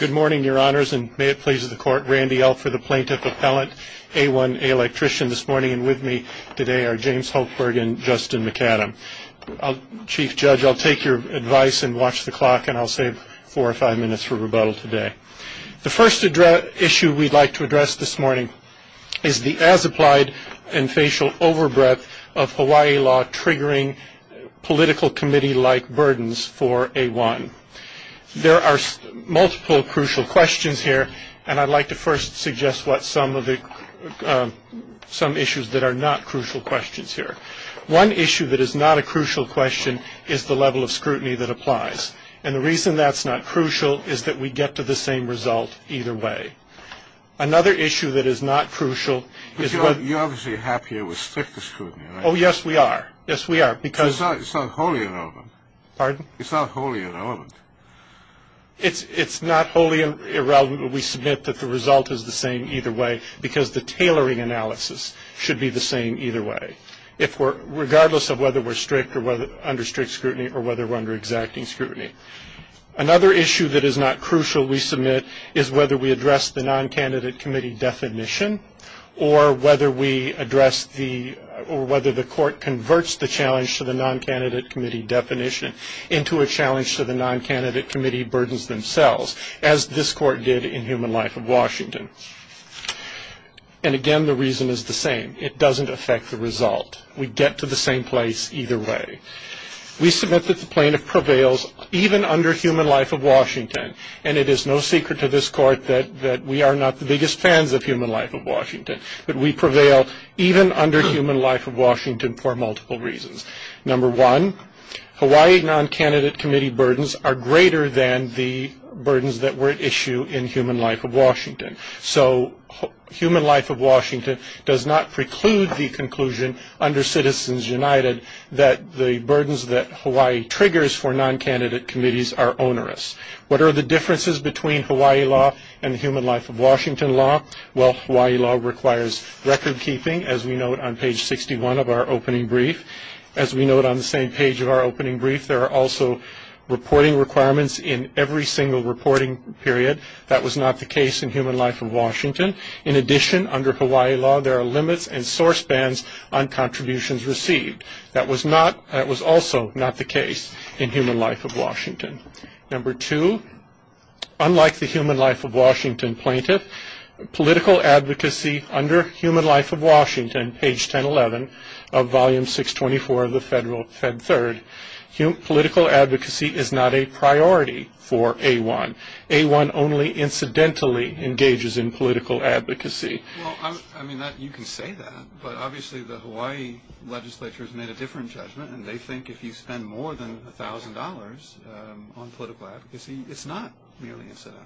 Good morning, your honors, and may it please the court, Randy L for the Plaintiff Appellant, A1 Electrician this morning, and with me today are James Hultberg and Justin McAdam. Chief Judge, I'll take your advice and watch the clock, and I'll save four or five minutes for rebuttal today. The first issue we'd like to address this morning is the as-applied and facial overbreath of Hawaii law triggering political committee-like burdens for A1. There are multiple crucial questions here, and I'd like to first suggest some issues that are not crucial questions here. One issue that is not a crucial question is the level of scrutiny that applies, and the reason that's not crucial is that we get to the same result either way. Another issue that is not crucial is what – You're obviously happy it was strict scrutiny, right? Oh, yes, we are. Yes, we are, because – It's not wholly irrelevant. Pardon? It's not wholly irrelevant. It's not wholly irrelevant, but we submit that the result is the same either way because the tailoring analysis should be the same either way, regardless of whether we're strict or under strict scrutiny or whether we're under exacting scrutiny. Another issue that is not crucial, we submit, is whether we address the non-candidate committee definition or whether we address the – or whether the court converts the challenge to the non-candidate committee definition into a challenge to the non-candidate committee burdens themselves, as this court did in Human Life of Washington. And, again, the reason is the same. It doesn't affect the result. We get to the same place either way. We submit that the plaintiff prevails even under Human Life of Washington, and it is no secret to this court that we are not the biggest fans of Human Life of Washington, but we prevail even under Human Life of Washington for multiple reasons. Number one, Hawaii non-candidate committee burdens are greater than the burdens that were at issue in Human Life of Washington. So Human Life of Washington does not preclude the conclusion under Citizens United that the burdens that Hawaii triggers for non-candidate committees are onerous. What are the differences between Hawaii law and Human Life of Washington law? Well, Hawaii law requires record-keeping, as we note on page 61 of our opening brief. As we note on the same page of our opening brief, there are also reporting requirements in every single reporting period. That was not the case in Human Life of Washington. In addition, under Hawaii law, there are limits and source bans on contributions received. That was not – that was also not the case in Human Life of Washington. Number two, unlike the Human Life of Washington plaintiff, political advocacy under Human Life of Washington, page 1011 of volume 624 of the Federal Fed Third, political advocacy is not a priority for A1. A1 only incidentally engages in political advocacy. Well, I mean, you can say that, but obviously the Hawaii legislature has made a different judgment, and they think if you spend more than $1,000 on political advocacy, it's not merely incidental.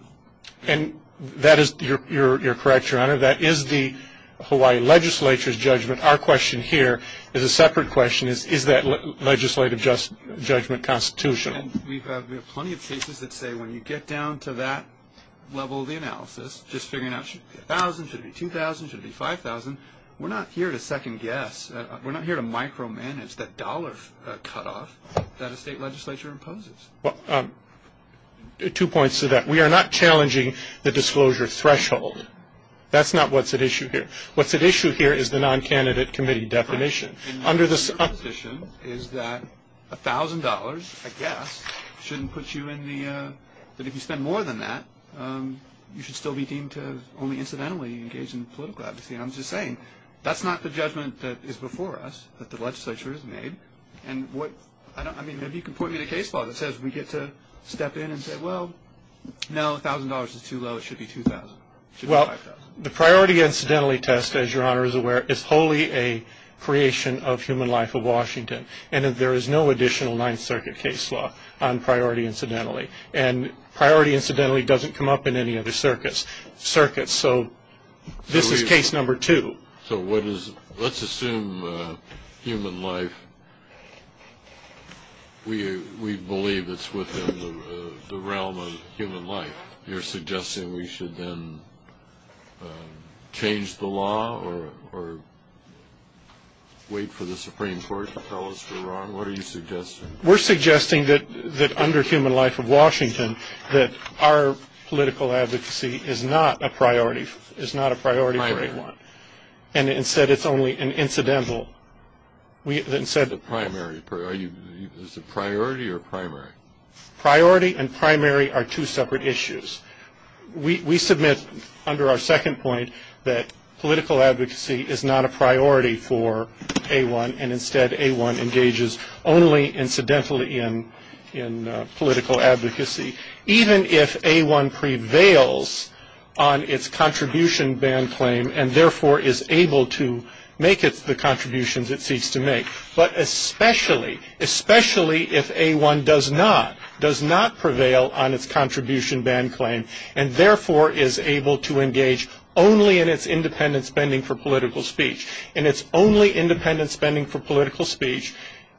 And that is – you're correct, Your Honor. That is the Hawaii legislature's judgment. Our question here is a separate question. Is that legislative judgment constitutional? And we have plenty of cases that say when you get down to that level of the analysis, just figuring out should it be $1,000, should it be $2,000, should it be $5,000, we're not here to second-guess. We're not here to micromanage that dollar cutoff that a state legislature imposes. Well, two points to that. We are not challenging the disclosure threshold. That's not what's at issue here. What's at issue here is the non-candidate committee definition. And my position is that $1,000, I guess, shouldn't put you in the – that if you spend more than that, you should still be deemed to only incidentally engage in political advocacy. And I'm just saying that's not the judgment that is before us that the legislature has made. And what – I mean, maybe you can point me to case law that says we get to step in and say, well, no, $1,000 is too low, it should be $2,000, it should be $5,000. Well, the priority incidentally test, as Your Honor is aware, is wholly a creation of human life of Washington. And there is no additional Ninth Circuit case law on priority incidentally. And priority incidentally doesn't come up in any other circuits. So this is case number two. So what is – let's assume human life, we believe it's within the realm of human life. You're suggesting we should then change the law or wait for the Supreme Court to tell us we're wrong? What are you suggesting? We're suggesting that under human life of Washington, that our political advocacy is not a priority. It's not a priority for A1. And instead it's only an incidental. Is it priority or primary? Priority and primary are two separate issues. We submit under our second point that political advocacy is not a priority for A1, and instead A1 engages only incidentally in political advocacy, even if A1 prevails on its contribution ban claim and therefore is able to make the contributions it seeks to make. But especially, especially if A1 does not, does not prevail on its contribution ban claim and therefore is able to engage only in its independent spending for political speech, and its only independent spending for political speech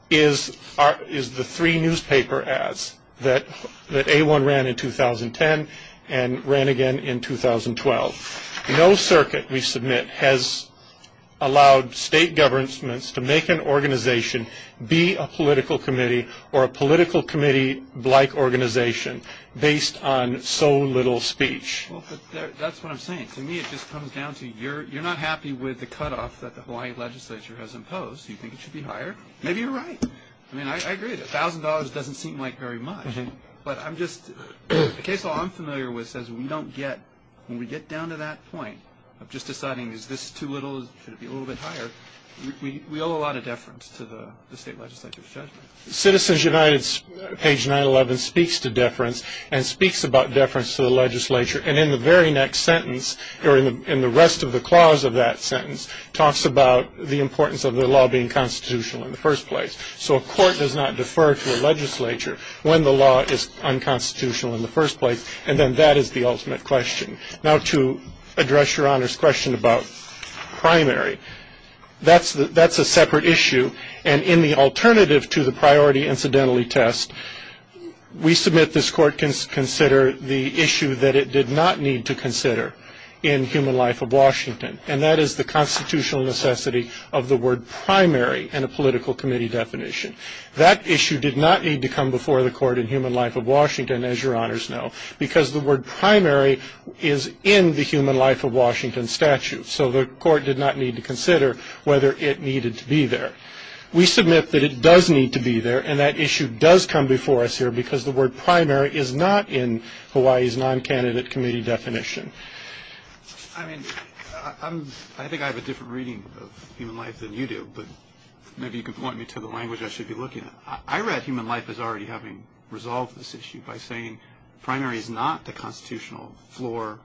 is the three newspaper ads that A1 ran in 2010 and ran again in 2012. No circuit we submit has allowed state governments to make an organization be a political committee or a political committee-like organization based on so little speech. Well, but that's what I'm saying. To me it just comes down to you're not happy with the cutoff that the Hawaii legislature has imposed. You think it should be higher. Maybe you're right. I mean, I agree. A thousand dollars doesn't seem like very much. But I'm just, the case law I'm familiar with says we don't get, when we get down to that point of just deciding is this too little, should it be a little bit higher, we owe a lot of deference to the state legislature's judgment. Citizens United's page 911 speaks to deference and speaks about deference to the legislature. And in the very next sentence, or in the rest of the clause of that sentence, talks about the importance of the law being constitutional in the first place. So a court does not defer to a legislature when the law is unconstitutional in the first place, and then that is the ultimate question. Now, to address Your Honor's question about primary, that's a separate issue. And in the alternative to the priority incidentally test, we submit this court can consider the issue that it did not need to consider in Human Life of Washington, and that is the constitutional necessity of the word primary in a political committee definition. That issue did not need to come before the court in Human Life of Washington, as Your Honors know, because the word primary is in the Human Life of Washington statute. So the court did not need to consider whether it needed to be there. We submit that it does need to be there, and that issue does come before us here, because the word primary is not in Hawaii's non-candidate committee definition. I mean, I think I have a different reading of Human Life than you do, but maybe you can point me to the language I should be looking at. I read Human Life as already having resolved this issue by saying primary is not the constitutional floor,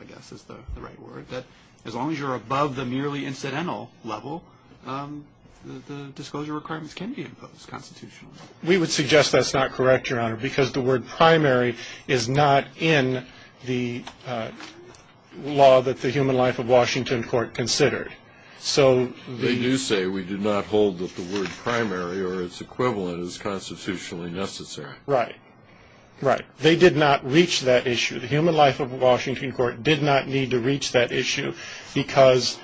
I guess is the right word, that as long as you're above the merely incidental level, the disclosure requirements can be imposed constitutionally. We would suggest that's not correct, Your Honor, because the word primary is not in the law that the Human Life of Washington court considered. They do say we do not hold that the word primary or its equivalent is constitutionally necessary. Right, right. They did not reach that issue. The Human Life of Washington court did not need to reach that issue because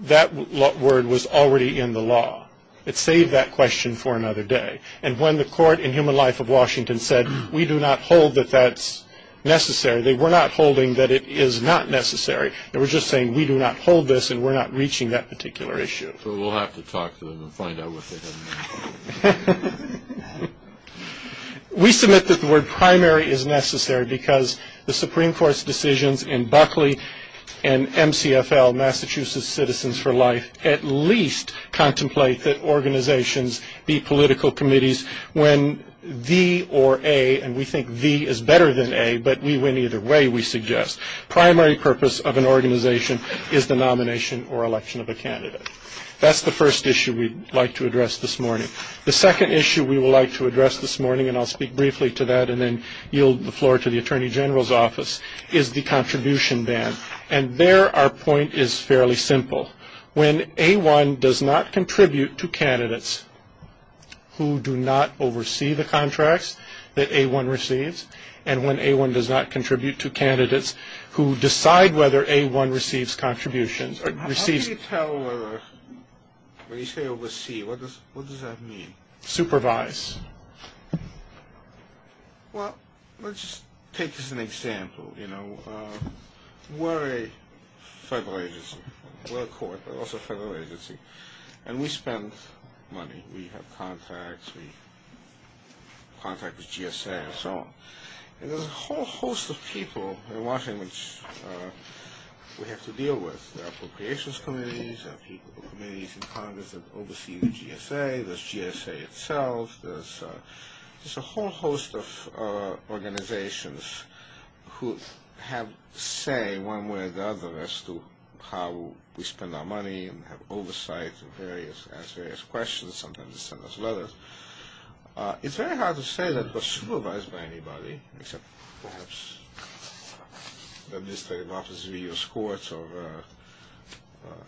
that word was already in the law. It saved that question for another day. And when the court in Human Life of Washington said we do not hold that that's necessary, they were not holding that it is not necessary. They were just saying we do not hold this and we're not reaching that particular issue. So we'll have to talk to them and find out what they have in mind. We submit that the word primary is necessary because the Supreme Court's decisions in Buckley and MCFL, Massachusetts Citizens for Life, at least contemplate that organizations be political committees when V or A, and we think V is better than A, but we win either way, we suggest, primary purpose of an organization is the nomination or election of a candidate. That's the first issue we'd like to address this morning. The second issue we would like to address this morning, and I'll speak briefly to that and then yield the floor to the Attorney General's office, is the contribution ban. And there our point is fairly simple. When A1 does not contribute to candidates who do not oversee the contracts that A1 receives, and when A1 does not contribute to candidates who decide whether A1 receives contributions, when you say oversee, what does that mean? Supervise. Well, let's just take this as an example. You know, we're a federal agency. We're a court, but also a federal agency, and we spend money. We have contracts. We contract with GSA and so on. And there's a whole host of people in Washington that we have to deal with. There are appropriations committees. There are committees in Congress that oversee the GSA. There's GSA itself. There's a whole host of organizations who have say, one way or the other, as to how we spend our money and have oversight and ask various questions. Sometimes they send us letters. It's very hard to say that we're supervised by anybody, except perhaps the Administrative Office of the U.S. Courts, or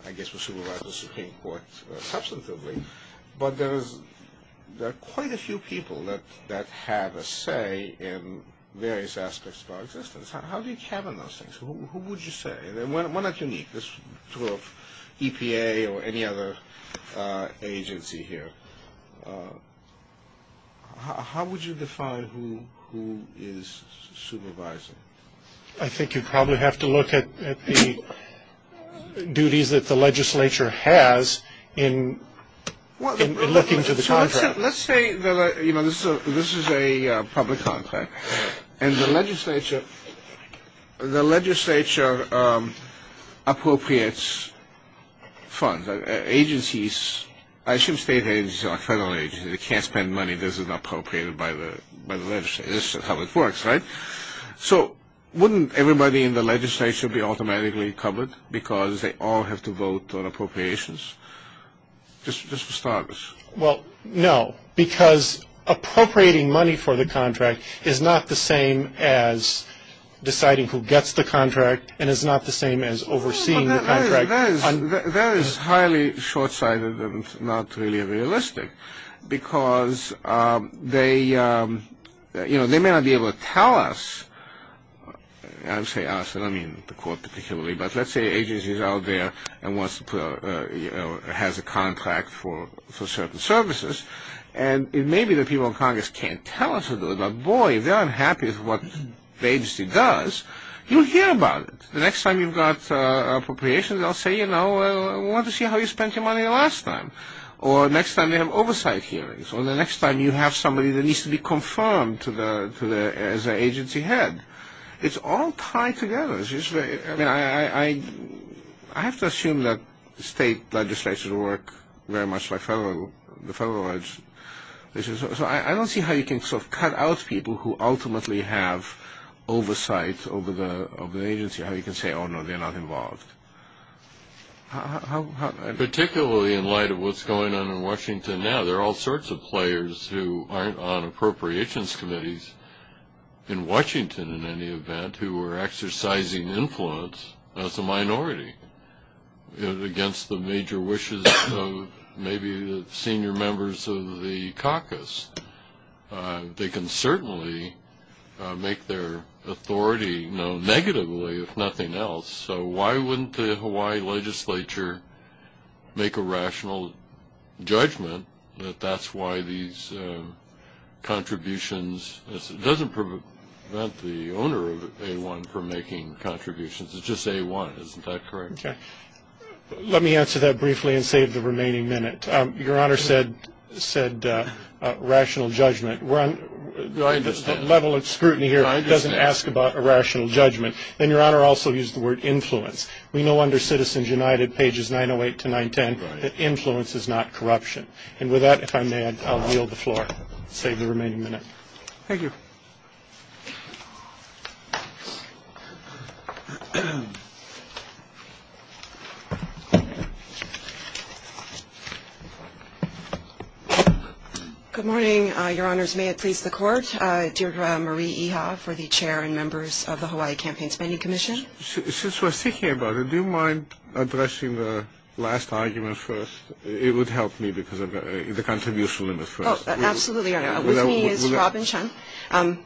I guess we're supervised by the Supreme Court substantively. But there are quite a few people that have a say in various aspects of our existence. How do you cabin those things? Who would you say? And we're not unique. This is true of EPA or any other agency here. How would you define who is supervising? I think you'd probably have to look at the duties that the legislature has in looking to the contracts. Let's say, you know, this is a public contract. And the legislature appropriates funds. Agencies, I assume state agencies or federal agencies, they can't spend money that isn't appropriated by the legislature. This is how it works, right? So wouldn't everybody in the legislature be automatically covered because they all have to vote on appropriations, just for starters? Well, no, because appropriating money for the contract is not the same as deciding who gets the contract and is not the same as overseeing the contract. That is highly short-sighted and not really realistic, because they may not be able to tell us, I say us, I don't mean the court particularly, but let's say an agency is out there and has a contract for certain services, and it may be that people in Congress can't tell us who to do it. But, boy, if they're unhappy with what the agency does, you'll hear about it. The next time you've got appropriations, they'll say, you know, we want to see how you spent your money last time. Or next time they have oversight hearings. Or the next time you have somebody that needs to be confirmed as an agency head. It's all tied together. I mean, I have to assume that state legislatures work very much like the federal legislature. So I don't see how you can sort of cut out people who ultimately have oversight over the agency, how you can say, oh, no, they're not involved. Particularly in light of what's going on in Washington now, there are all sorts of players who aren't on appropriations committees in Washington, in any event, who are exercising influence as a minority against the major wishes of maybe the senior members of the caucus. They can certainly make their authority known negatively, if nothing else. So why wouldn't the Hawaii legislature make a rational judgment that that's why these contributions, it doesn't prevent the owner of A-1 from making contributions. It's just A-1. Isn't that correct? Okay. Let me answer that briefly and save the remaining minute. Your Honor said rational judgment. I understand. The level of scrutiny here doesn't ask about a rational judgment. And Your Honor also used the word influence. We know under Citizens United, pages 908 to 910, that influence is not corruption. And with that, if I may, I'll yield the floor. Save the remaining minute. Thank you. Good morning, Your Honors. May it please the Court. Deirdre Marie Iha for the chair and members of the Hawaii Campaign Spending Commission. Since we're speaking about it, do you mind addressing the last argument first? It would help me because of the contribution limit first. Oh, absolutely, Your Honor. With me is Robyn Chun.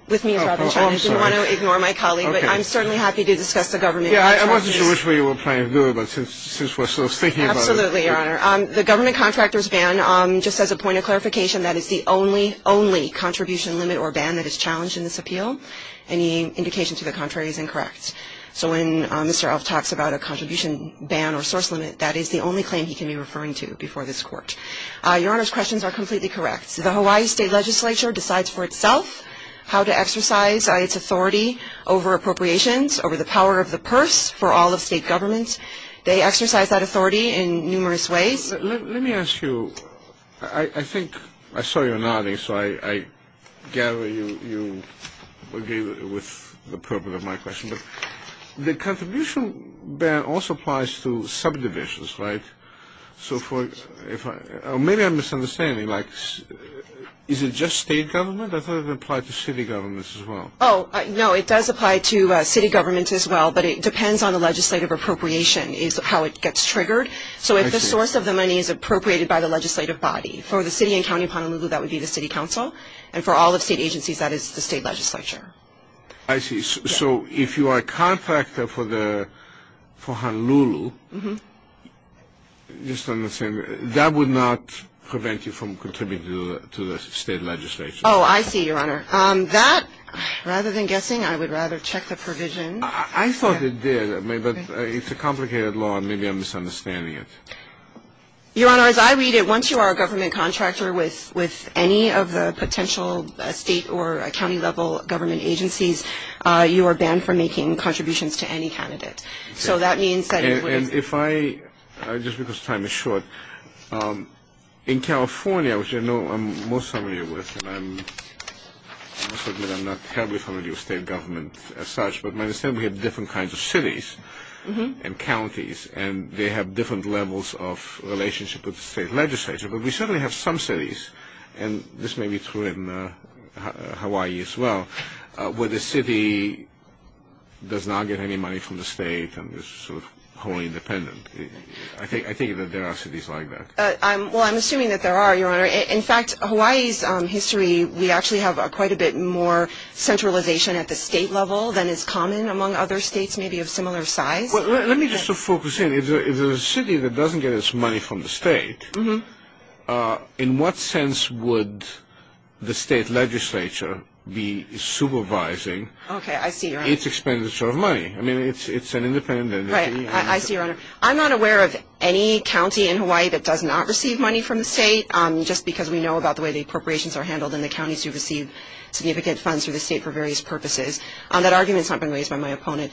With me is Robyn Chun. I didn't want to ignore my colleague, but I'm certainly happy to discuss the government contract. Yeah, I wasn't sure which way you were planning to go, but since we're sort of speaking about it. Absolutely, Your Honor. The government contractor's ban, just as a point of clarification, that is the only, only contribution limit or ban that is challenged in this appeal. Any indication to the contrary is incorrect. So when Mr. Elf talks about a contribution ban or source limit, that is the only claim he can be referring to before this Court. Your Honor's questions are completely correct. The Hawaii State Legislature decides for itself how to exercise its authority over appropriations, over the power of the purse for all of state government. They exercise that authority in numerous ways. Let me ask you, I think I saw you nodding, so I gather you agree with the purpose of my question. The contribution ban also applies to subdivisions, right? Maybe I'm misunderstanding. Is it just state government? I thought it applied to city governments as well. Oh, no, it does apply to city governments as well, but it depends on the legislative appropriation is how it gets triggered. So if the source of the money is appropriated by the legislative body, for the city and county of Honolulu, that would be the city council, and for all of state agencies, that is the state legislature. I see. So if you are a contractor for Honolulu, just on the same, that would not prevent you from contributing to the state legislature? Oh, I see, Your Honor. That, rather than guessing, I would rather check the provision. I thought it did, but it's a complicated law, and maybe I'm misunderstanding it. Your Honor, as I read it, once you are a government contractor with any of the potential state or county-level government agencies, you are banned from making contributions to any candidate. So that means that you would be – And if I – just because time is short – in California, which I know I'm most familiar with, and I must admit I'm not terribly familiar with state government as such, but my understanding is we have different kinds of cities and counties, and they have different levels of relationship with the state legislature. But we certainly have some cities, and this may be true in Hawaii as well, where the city does not get any money from the state and is wholly independent. I think that there are cities like that. Well, I'm assuming that there are, Your Honor. In fact, Hawaii's history, we actually have quite a bit more centralization at the state level than is common among other states maybe of similar size. Let me just focus in. If there is a city that doesn't get its money from the state, in what sense would the state legislature be supervising its expenditure of money? I mean, it's an independent entity. I see, Your Honor. I'm not aware of any county in Hawaii that does not receive money from the state, just because we know about the way the appropriations are handled and the counties who receive significant funds from the state for various purposes. That argument has not been raised by my opponent.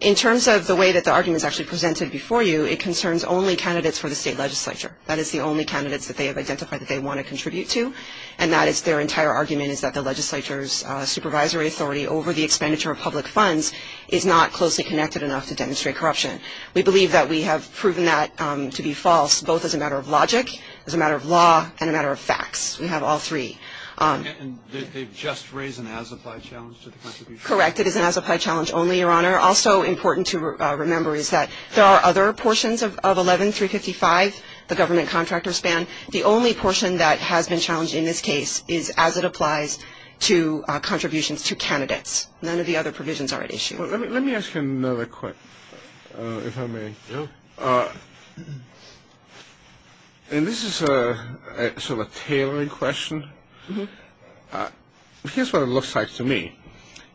In terms of the way that the argument is actually presented before you, it concerns only candidates for the state legislature. That is the only candidates that they have identified that they want to contribute to, and that is their entire argument is that the legislature's supervisory authority over the expenditure of public funds is not closely connected enough to demonstrate corruption. We believe that we have proven that to be false, both as a matter of logic, as a matter of law, and a matter of facts. We have all three. And they've just raised an as-applied challenge to the contribution? Correct. Yes, it is an as-applied challenge only, Your Honor. Also important to remember is that there are other portions of 11355, the government contractor span. The only portion that has been challenged in this case is as it applies to contributions to candidates. None of the other provisions are at issue. Let me ask you another question, if I may. Yeah. And this is sort of a tailoring question. Here's what it looks like to me.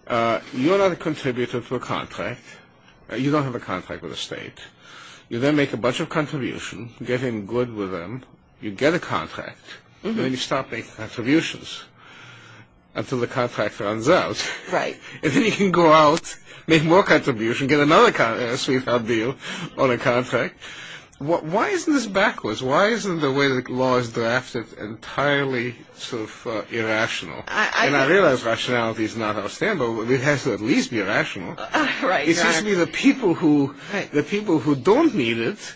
You're not a contributor to a contract. You don't have a contract with a state. You then make a bunch of contributions, get in good with them. You get a contract. Then you stop making contributions until the contract runs out. Right. And then you can go out, make more contributions, get another sweet, hard deal on a contract. Why isn't this backwards? Why isn't the way the law is drafted entirely sort of irrational? And I realize rationality is not our standard, but it has to at least be rational. Right. It seems to me the people who don't need it,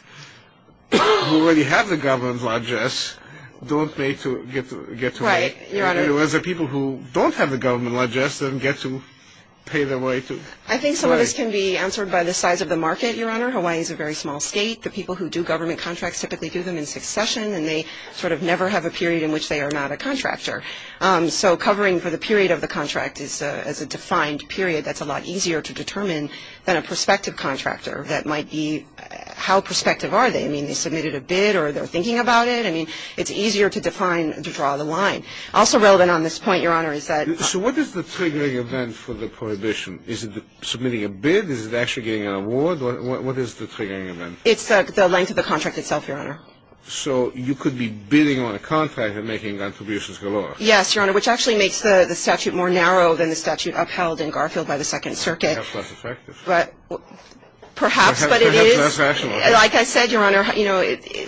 who already have the government ledges, don't get to make. Right, Your Honor. Whereas the people who don't have the government ledges then get to pay their way to. I think some of this can be answered by the size of the market, Your Honor. Hawaii is a very small state. The people who do government contracts typically do them in succession, and they sort of never have a period in which they are not a contractor. So covering for the period of the contract is a defined period that's a lot easier to determine than a prospective contractor. That might be how prospective are they? I mean, they submitted a bid or they're thinking about it. I mean, it's easier to define, to draw the line. Also relevant on this point, Your Honor, is that. So what is the triggering event for the prohibition? Is it submitting a bid? Is it actually getting an award? What is the triggering event? It's the length of the contract itself, Your Honor. So you could be bidding on a contract and making contributions galore. Yes, Your Honor, which actually makes the statute more narrow than the statute upheld in Garfield by the Second Circuit. Perhaps less effective. Perhaps, but it is. Perhaps less rational. Like I said, Your Honor, you know,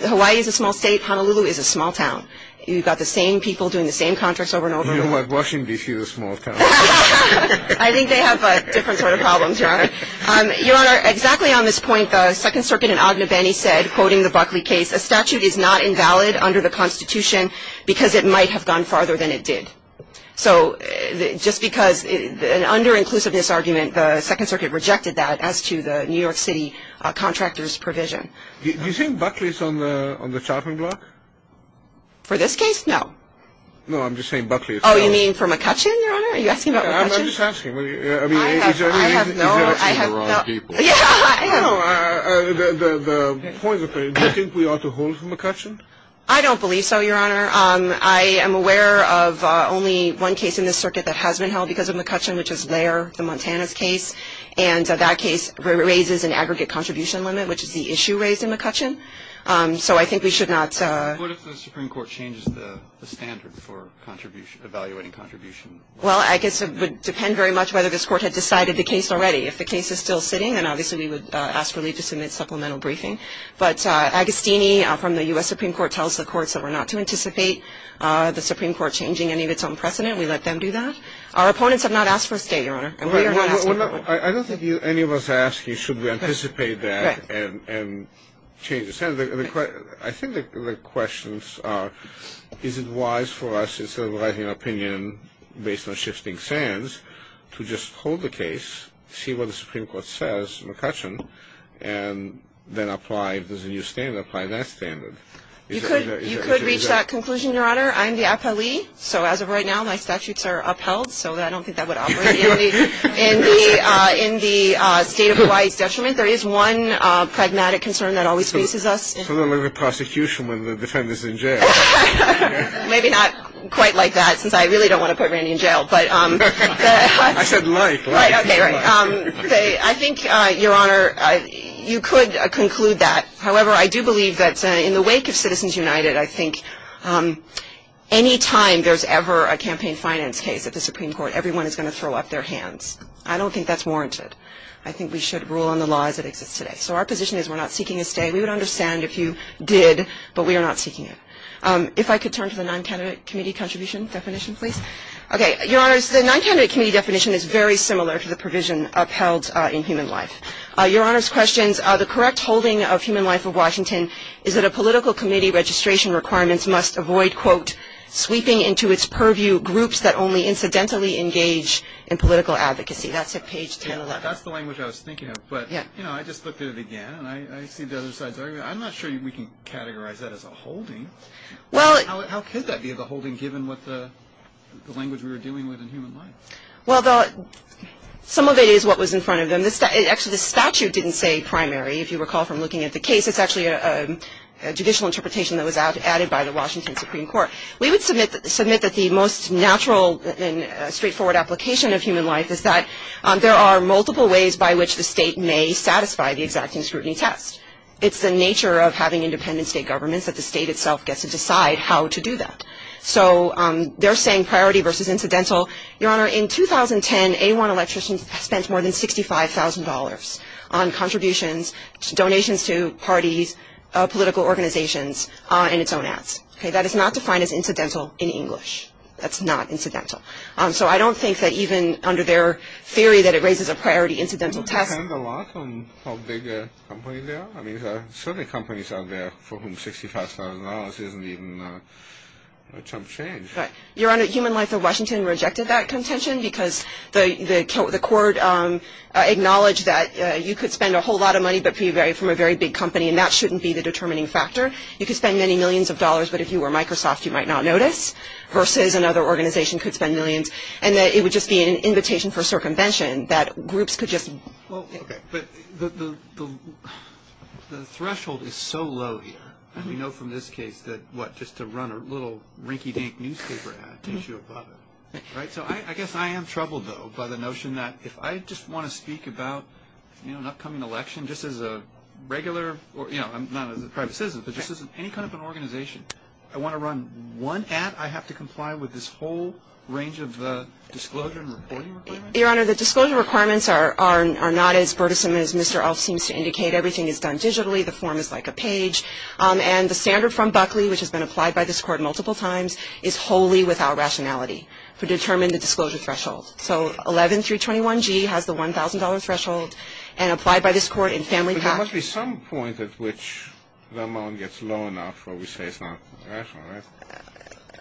Hawaii is a small state. Honolulu is a small town. You've got the same people doing the same contracts over and over again. You know what? Washington, D.C. is a small town. I think they have different sort of problems, Your Honor. Your Honor, exactly on this point, the Second Circuit in Ognebenni said, quoting the Buckley case, a statute is not invalid under the Constitution because it might have gone farther than it did. So just because an under-inclusiveness argument, the Second Circuit rejected that as to the New York City contractor's provision. Do you think Buckley is on the chopping block? For this case, no. No, I'm just saying Buckley is. Oh, you mean for McCutcheon, Your Honor? Are you asking about McCutcheon? I'm just asking. I have no idea. You're asking the wrong people. Yeah, I know. The point is, do you think we ought to hold for McCutcheon? I don't believe so, Your Honor. I am aware of only one case in this circuit that has been held because of McCutcheon, which is there, the Montana case. And that case raises an aggregate contribution limit, which is the issue raised in McCutcheon. So I think we should not. What if the Supreme Court changes the standard for evaluating contributions? Well, I guess it would depend very much whether this Court had decided the case already. If the case is still sitting, then obviously we would ask for leave to submit supplemental briefing. But Agostini from the U.S. Supreme Court tells the courts that we're not to anticipate the Supreme Court changing any of its own precedent. We let them do that. Our opponents have not asked for a stay, Your Honor, and we are not asking for it. I don't think any of us ask you should we anticipate that and change the standard. I think the questions are, is it wise for us, instead of writing an opinion based on shifting sands, to just hold the case, see what the Supreme Court says, McCutcheon, and then apply, if there's a new standard, apply that standard? You could reach that conclusion, Your Honor. I'm the appellee, so as of right now, my statutes are upheld, so I don't think that would operate. In the state of Hawaii's detriment, there is one pragmatic concern that always faces us. It's a little like the prosecution when the defendant is in jail. Maybe not quite like that, since I really don't want to put Randy in jail. I said like, like. Okay, right. I think, Your Honor, you could conclude that. However, I do believe that in the wake of Citizens United, I think any time there's ever a campaign finance case at the Supreme Court, everyone is going to throw up their hands. I don't think that's warranted. I think we should rule on the laws that exist today. So our position is we're not seeking a stay. We would understand if you did, but we are not seeking it. If I could turn to the non-candidate committee contribution definition, please. Okay, Your Honor, the non-candidate committee definition is very similar to the provision upheld in Human Life. Your Honor's questions, the correct holding of Human Life of Washington is that a political committee registration requirements must avoid, quote, sweeping into its purview groups that only incidentally engage in political advocacy. That's at page 1011. That's the language I was thinking of. But, you know, I just looked at it again, and I see the other side's argument. I'm not sure we can categorize that as a holding. How could that be the holding given what the language we were dealing with in Human Life? Well, some of it is what was in front of them. Actually, the statute didn't say primary, if you recall from looking at the case. It's actually a judicial interpretation that was added by the Washington Supreme Court. We would submit that the most natural and straightforward application of Human Life is that there are multiple ways by which the state may satisfy the exacting scrutiny test. It's the nature of having independent state governments that the state itself gets to decide how to do that. So they're saying priority versus incidental. Your Honor, in 2010, A1 Electricity spent more than $65,000 on contributions, donations to parties, political organizations, and its own ads. That is not defined as incidental in English. That's not incidental. So I don't think that even under their theory that it raises a priority incidental test. It depends a lot on how big a company they are. I mean, there are certain companies out there for whom $65,000 isn't even a chump change. Your Honor, Human Life of Washington rejected that contention because the court acknowledged that you could spend a whole lot of money but be from a very big company, and that shouldn't be the determining factor. You could spend many millions of dollars, but if you were Microsoft, you might not notice versus another organization could spend millions, and that it would just be an invitation for circumvention that groups could just. Well, okay, but the threshold is so low here. We know from this case that, what, just to run a little rinky-dink newspaper ad takes you above it, right? So I guess I am troubled, though, by the notion that if I just want to speak about, you know, an upcoming election just as a regular or, you know, not as a private citizen, but just as any kind of an organization, I want to run one ad, I have to comply with this whole range of disclosure and reporting requirements? Your Honor, the disclosure requirements are not as courteous as Mr. Ulf seems to indicate. Everything is done digitally. The form is like a page, and the standard from Buckley, which has been applied by this Court multiple times, is wholly without rationality to determine the disclosure threshold. So 11-321-G has the $1,000 threshold, and applied by this Court in family pact. But there must be some point at which the amount gets low enough where we say it's not rational, right?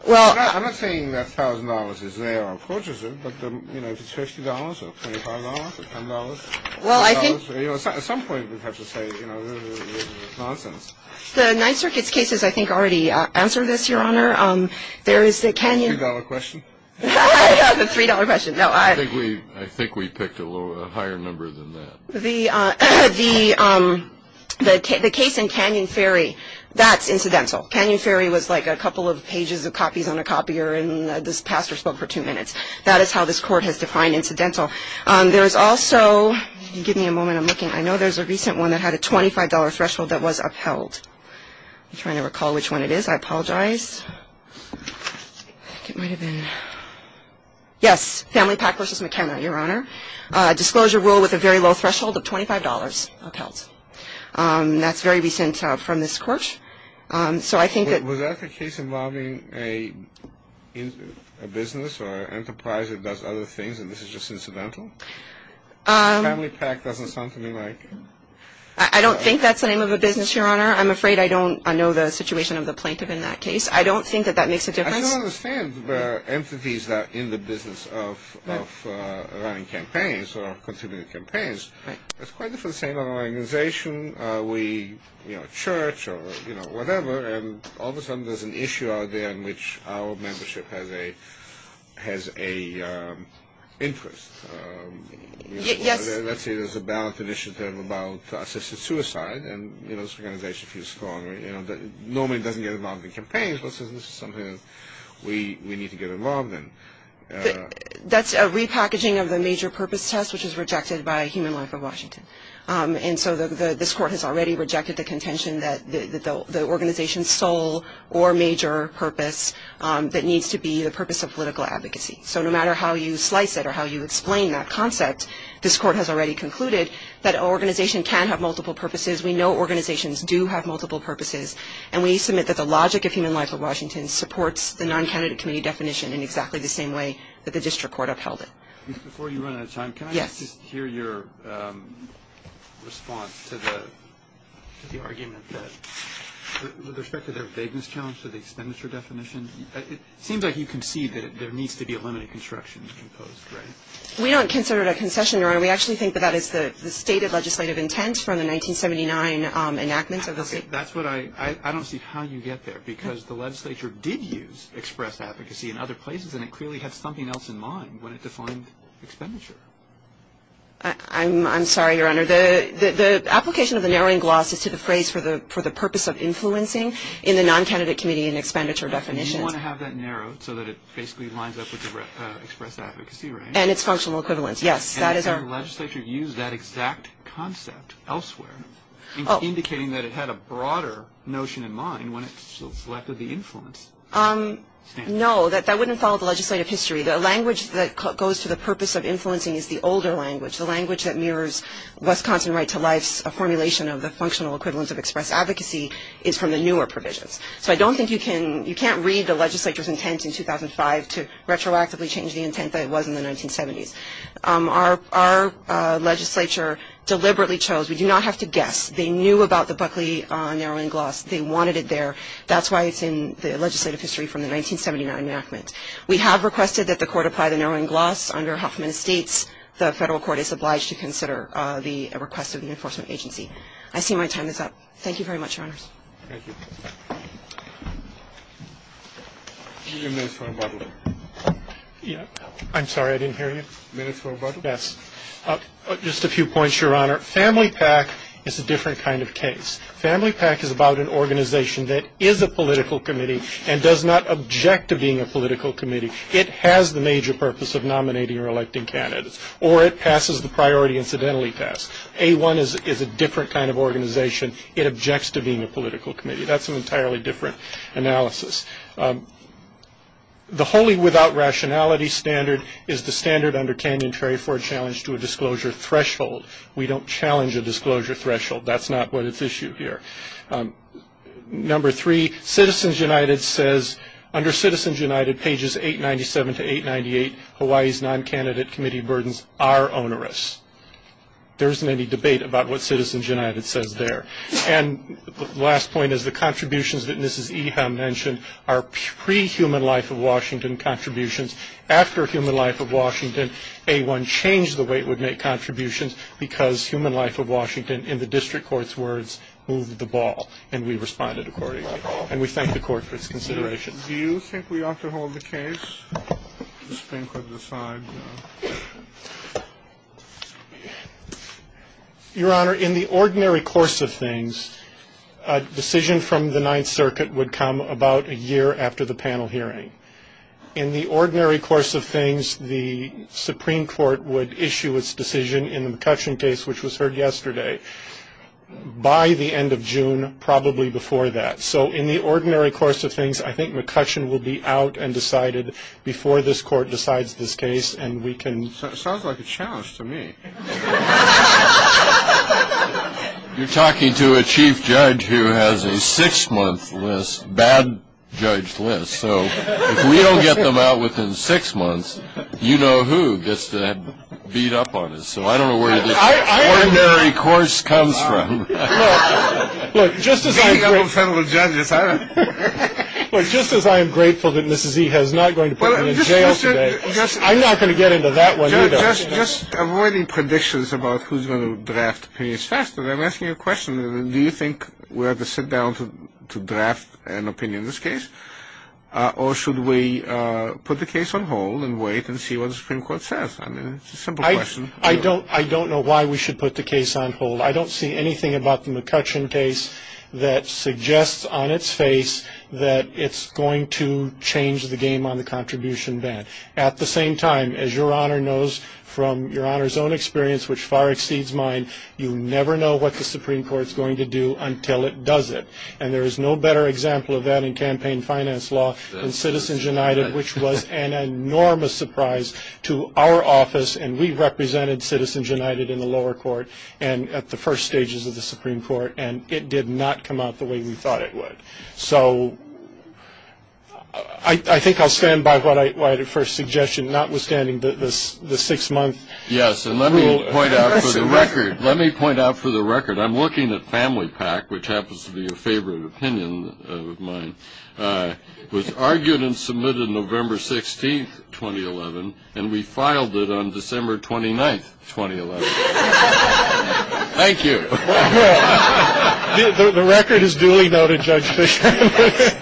Well, I'm not saying that $1,000 is there or courteous, but, you know, if it's $50 or $25 or $10. Well, I think at some point we'd have to say, you know, this is nonsense. The Ninth Circuit's cases, I think, already answered this, Your Honor. There is the Canyon. $2 question? The $3 question. No. I think we picked a higher number than that. The case in Canyon Ferry, that's incidental. Canyon Ferry was like a couple of pages of copies on a copier, and this pastor spoke for two minutes. That is how this Court has defined incidental. There is also – give me a moment. I'm looking. I know there's a recent one that had a $25 threshold that was upheld. I'm trying to recall which one it is. I apologize. I think it might have been – yes. Family pact v. McKenna, Your Honor. Disclosure rule with a very low threshold of $25 upheld. That's very recent from this Court. So I think that – A business or an enterprise that does other things, and this is just incidental? Family pact doesn't sound to me like – I don't think that's the name of a business, Your Honor. I'm afraid I don't know the situation of the plaintiff in that case. I don't think that that makes a difference. I don't understand where entities that are in the business of running campaigns or continuing campaigns. It's quite the same organization. We, you know, church or, you know, whatever, and all of a sudden there's an issue out there in which our membership has a interest. Yes. Let's say there's a ballot initiative about assisted suicide, and, you know, this organization feels scorned. You know, normally it doesn't get involved in campaigns. This is something that we need to get involved in. That's a repackaging of the major purpose test, which is rejected by Human Life of Washington. And so this court has already rejected the contention that the organization's sole or major purpose that needs to be the purpose of political advocacy. So no matter how you slice it or how you explain that concept, this court has already concluded that an organization can have multiple purposes. We know organizations do have multiple purposes, and we submit that the logic of Human Life of Washington supports the non-candidate committee definition in exactly the same way that the district court upheld it. Before you run out of time, can I just hear your response to the argument that, with respect to their vagueness challenge to the expenditure definition, it seems like you concede that there needs to be a limited construction imposed, right? We don't consider it a concession, Your Honor. We actually think that that is the stated legislative intent from the 1979 enactment. I don't see how you get there, because the legislature did use express advocacy in other places, and it clearly had something else in mind when it defined expenditure. I'm sorry, Your Honor. The application of the narrowing gloss is to the phrase for the purpose of influencing in the non-candidate committee and expenditure definition. You want to have that narrowed so that it basically lines up with the express advocacy, right? And its functional equivalence, yes. And the legislature used that exact concept elsewhere, indicating that it had a broader notion in mind when it selected the influence. No, that wouldn't follow the legislative history. The language that goes to the purpose of influencing is the older language. The language that mirrors Wisconsin right to life's formulation of the functional equivalence of express advocacy is from the newer provisions. So I don't think you can read the legislature's intent in 2005 to retroactively change the intent that it was in the 1970s. Our legislature deliberately chose. We do not have to guess. They knew about the Buckley narrowing gloss. They wanted it there. That's why it's in the legislative history from the 1979 enactment. We have requested that the court apply the narrowing gloss under Huffman Estates. The federal court is obliged to consider the request of the enforcement agency. I see my time is up. Thank you very much, Your Honors. Thank you. You have minutes for rebuttal. I'm sorry, I didn't hear you. Minutes for rebuttal. Yes. Just a few points, Your Honor. Family PAC is a different kind of case. Family PAC is about an organization that is a political committee and does not object to being a political committee. It has the major purpose of nominating or electing candidates, or it passes the priority incidentally test. A1 is a different kind of organization. It objects to being a political committee. That's an entirely different analysis. The wholly without rationality standard is the standard under Kanyon-Terry for a challenge to a disclosure threshold. We don't challenge a disclosure threshold. That's not what is issued here. Number three, Citizens United says under Citizens United, pages 897 to 898, Hawaii's non-candidate committee burdens are onerous. There isn't any debate about what Citizens United says there. And the last point is the contributions that Mrs. Eham mentioned are pre-Human Life of Washington contributions. After Human Life of Washington, A1 changed the way it would make contributions because Human Life of Washington, in the district court's words, moved the ball. And we responded accordingly. And we thank the Court for its consideration. Do you think we ought to hold the case? The Supreme Court has decided no. Your Honor, in the ordinary course of things, a decision from the Ninth Circuit would come about a year after the panel hearing. In the ordinary course of things, the Supreme Court would issue its decision in the McCutcheon case, which was heard yesterday, by the end of June, probably before that. So in the ordinary course of things, I think McCutcheon will be out and decided before this Court decides this case. And we can ---- Sounds like a challenge to me. You're talking to a chief judge who has a six-month list, bad judge list. So if we don't get them out within six months, you know who gets that beat up on us. So I don't know where the ordinary course comes from. Look, just as I'm grateful that Mrs. E. has not going to put me in jail today, I'm not going to get into that one either. Just avoiding predictions about who's going to draft opinions faster, I'm asking you a question. Do you think we ought to sit down to draft an opinion in this case? Or should we put the case on hold and wait and see what the Supreme Court says? I mean, it's a simple question. I don't know why we should put the case on hold. I don't see anything about the McCutcheon case that suggests on its face that it's going to change the game on the contribution band. At the same time, as Your Honor knows from Your Honor's own experience, which far exceeds mine, you never know what the Supreme Court's going to do until it does it. And there is no better example of that in campaign finance law than Citizens United, which was an enormous surprise to our office. And we represented Citizens United in the lower court and at the first stages of the Supreme Court, and it did not come out the way we thought it would. So I think I'll stand by my first suggestion, notwithstanding the six-month rule. Yes, and let me point out for the record, let me point out for the record, I'm looking at family PAC, which happens to be a favorite opinion of mine, was argued and submitted November 16th, 2011, and we filed it on December 29th, 2011. Thank you. The record is duly noted, Judge Fisher.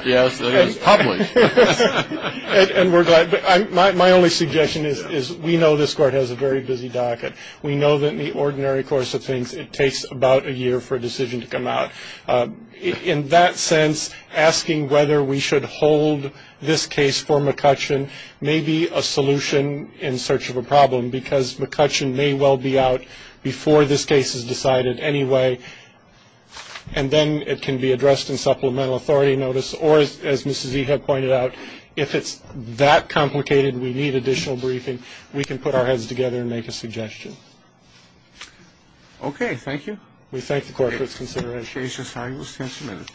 Yes, it is public. And we're glad. My only suggestion is we know this court has a very busy docket. We know that in the ordinary course of things, it takes about a year for a decision to come out. In that sense, asking whether we should hold this case for McCutcheon may be a solution in search of a problem, because McCutcheon may well be out before this case is decided anyway, and then it can be addressed in supplemental authority notice. Or, as Mr. Zia pointed out, if it's that complicated and we need additional briefing, we can put our heads together and make a suggestion. Okay. Thank you. We thank the court for its consideration.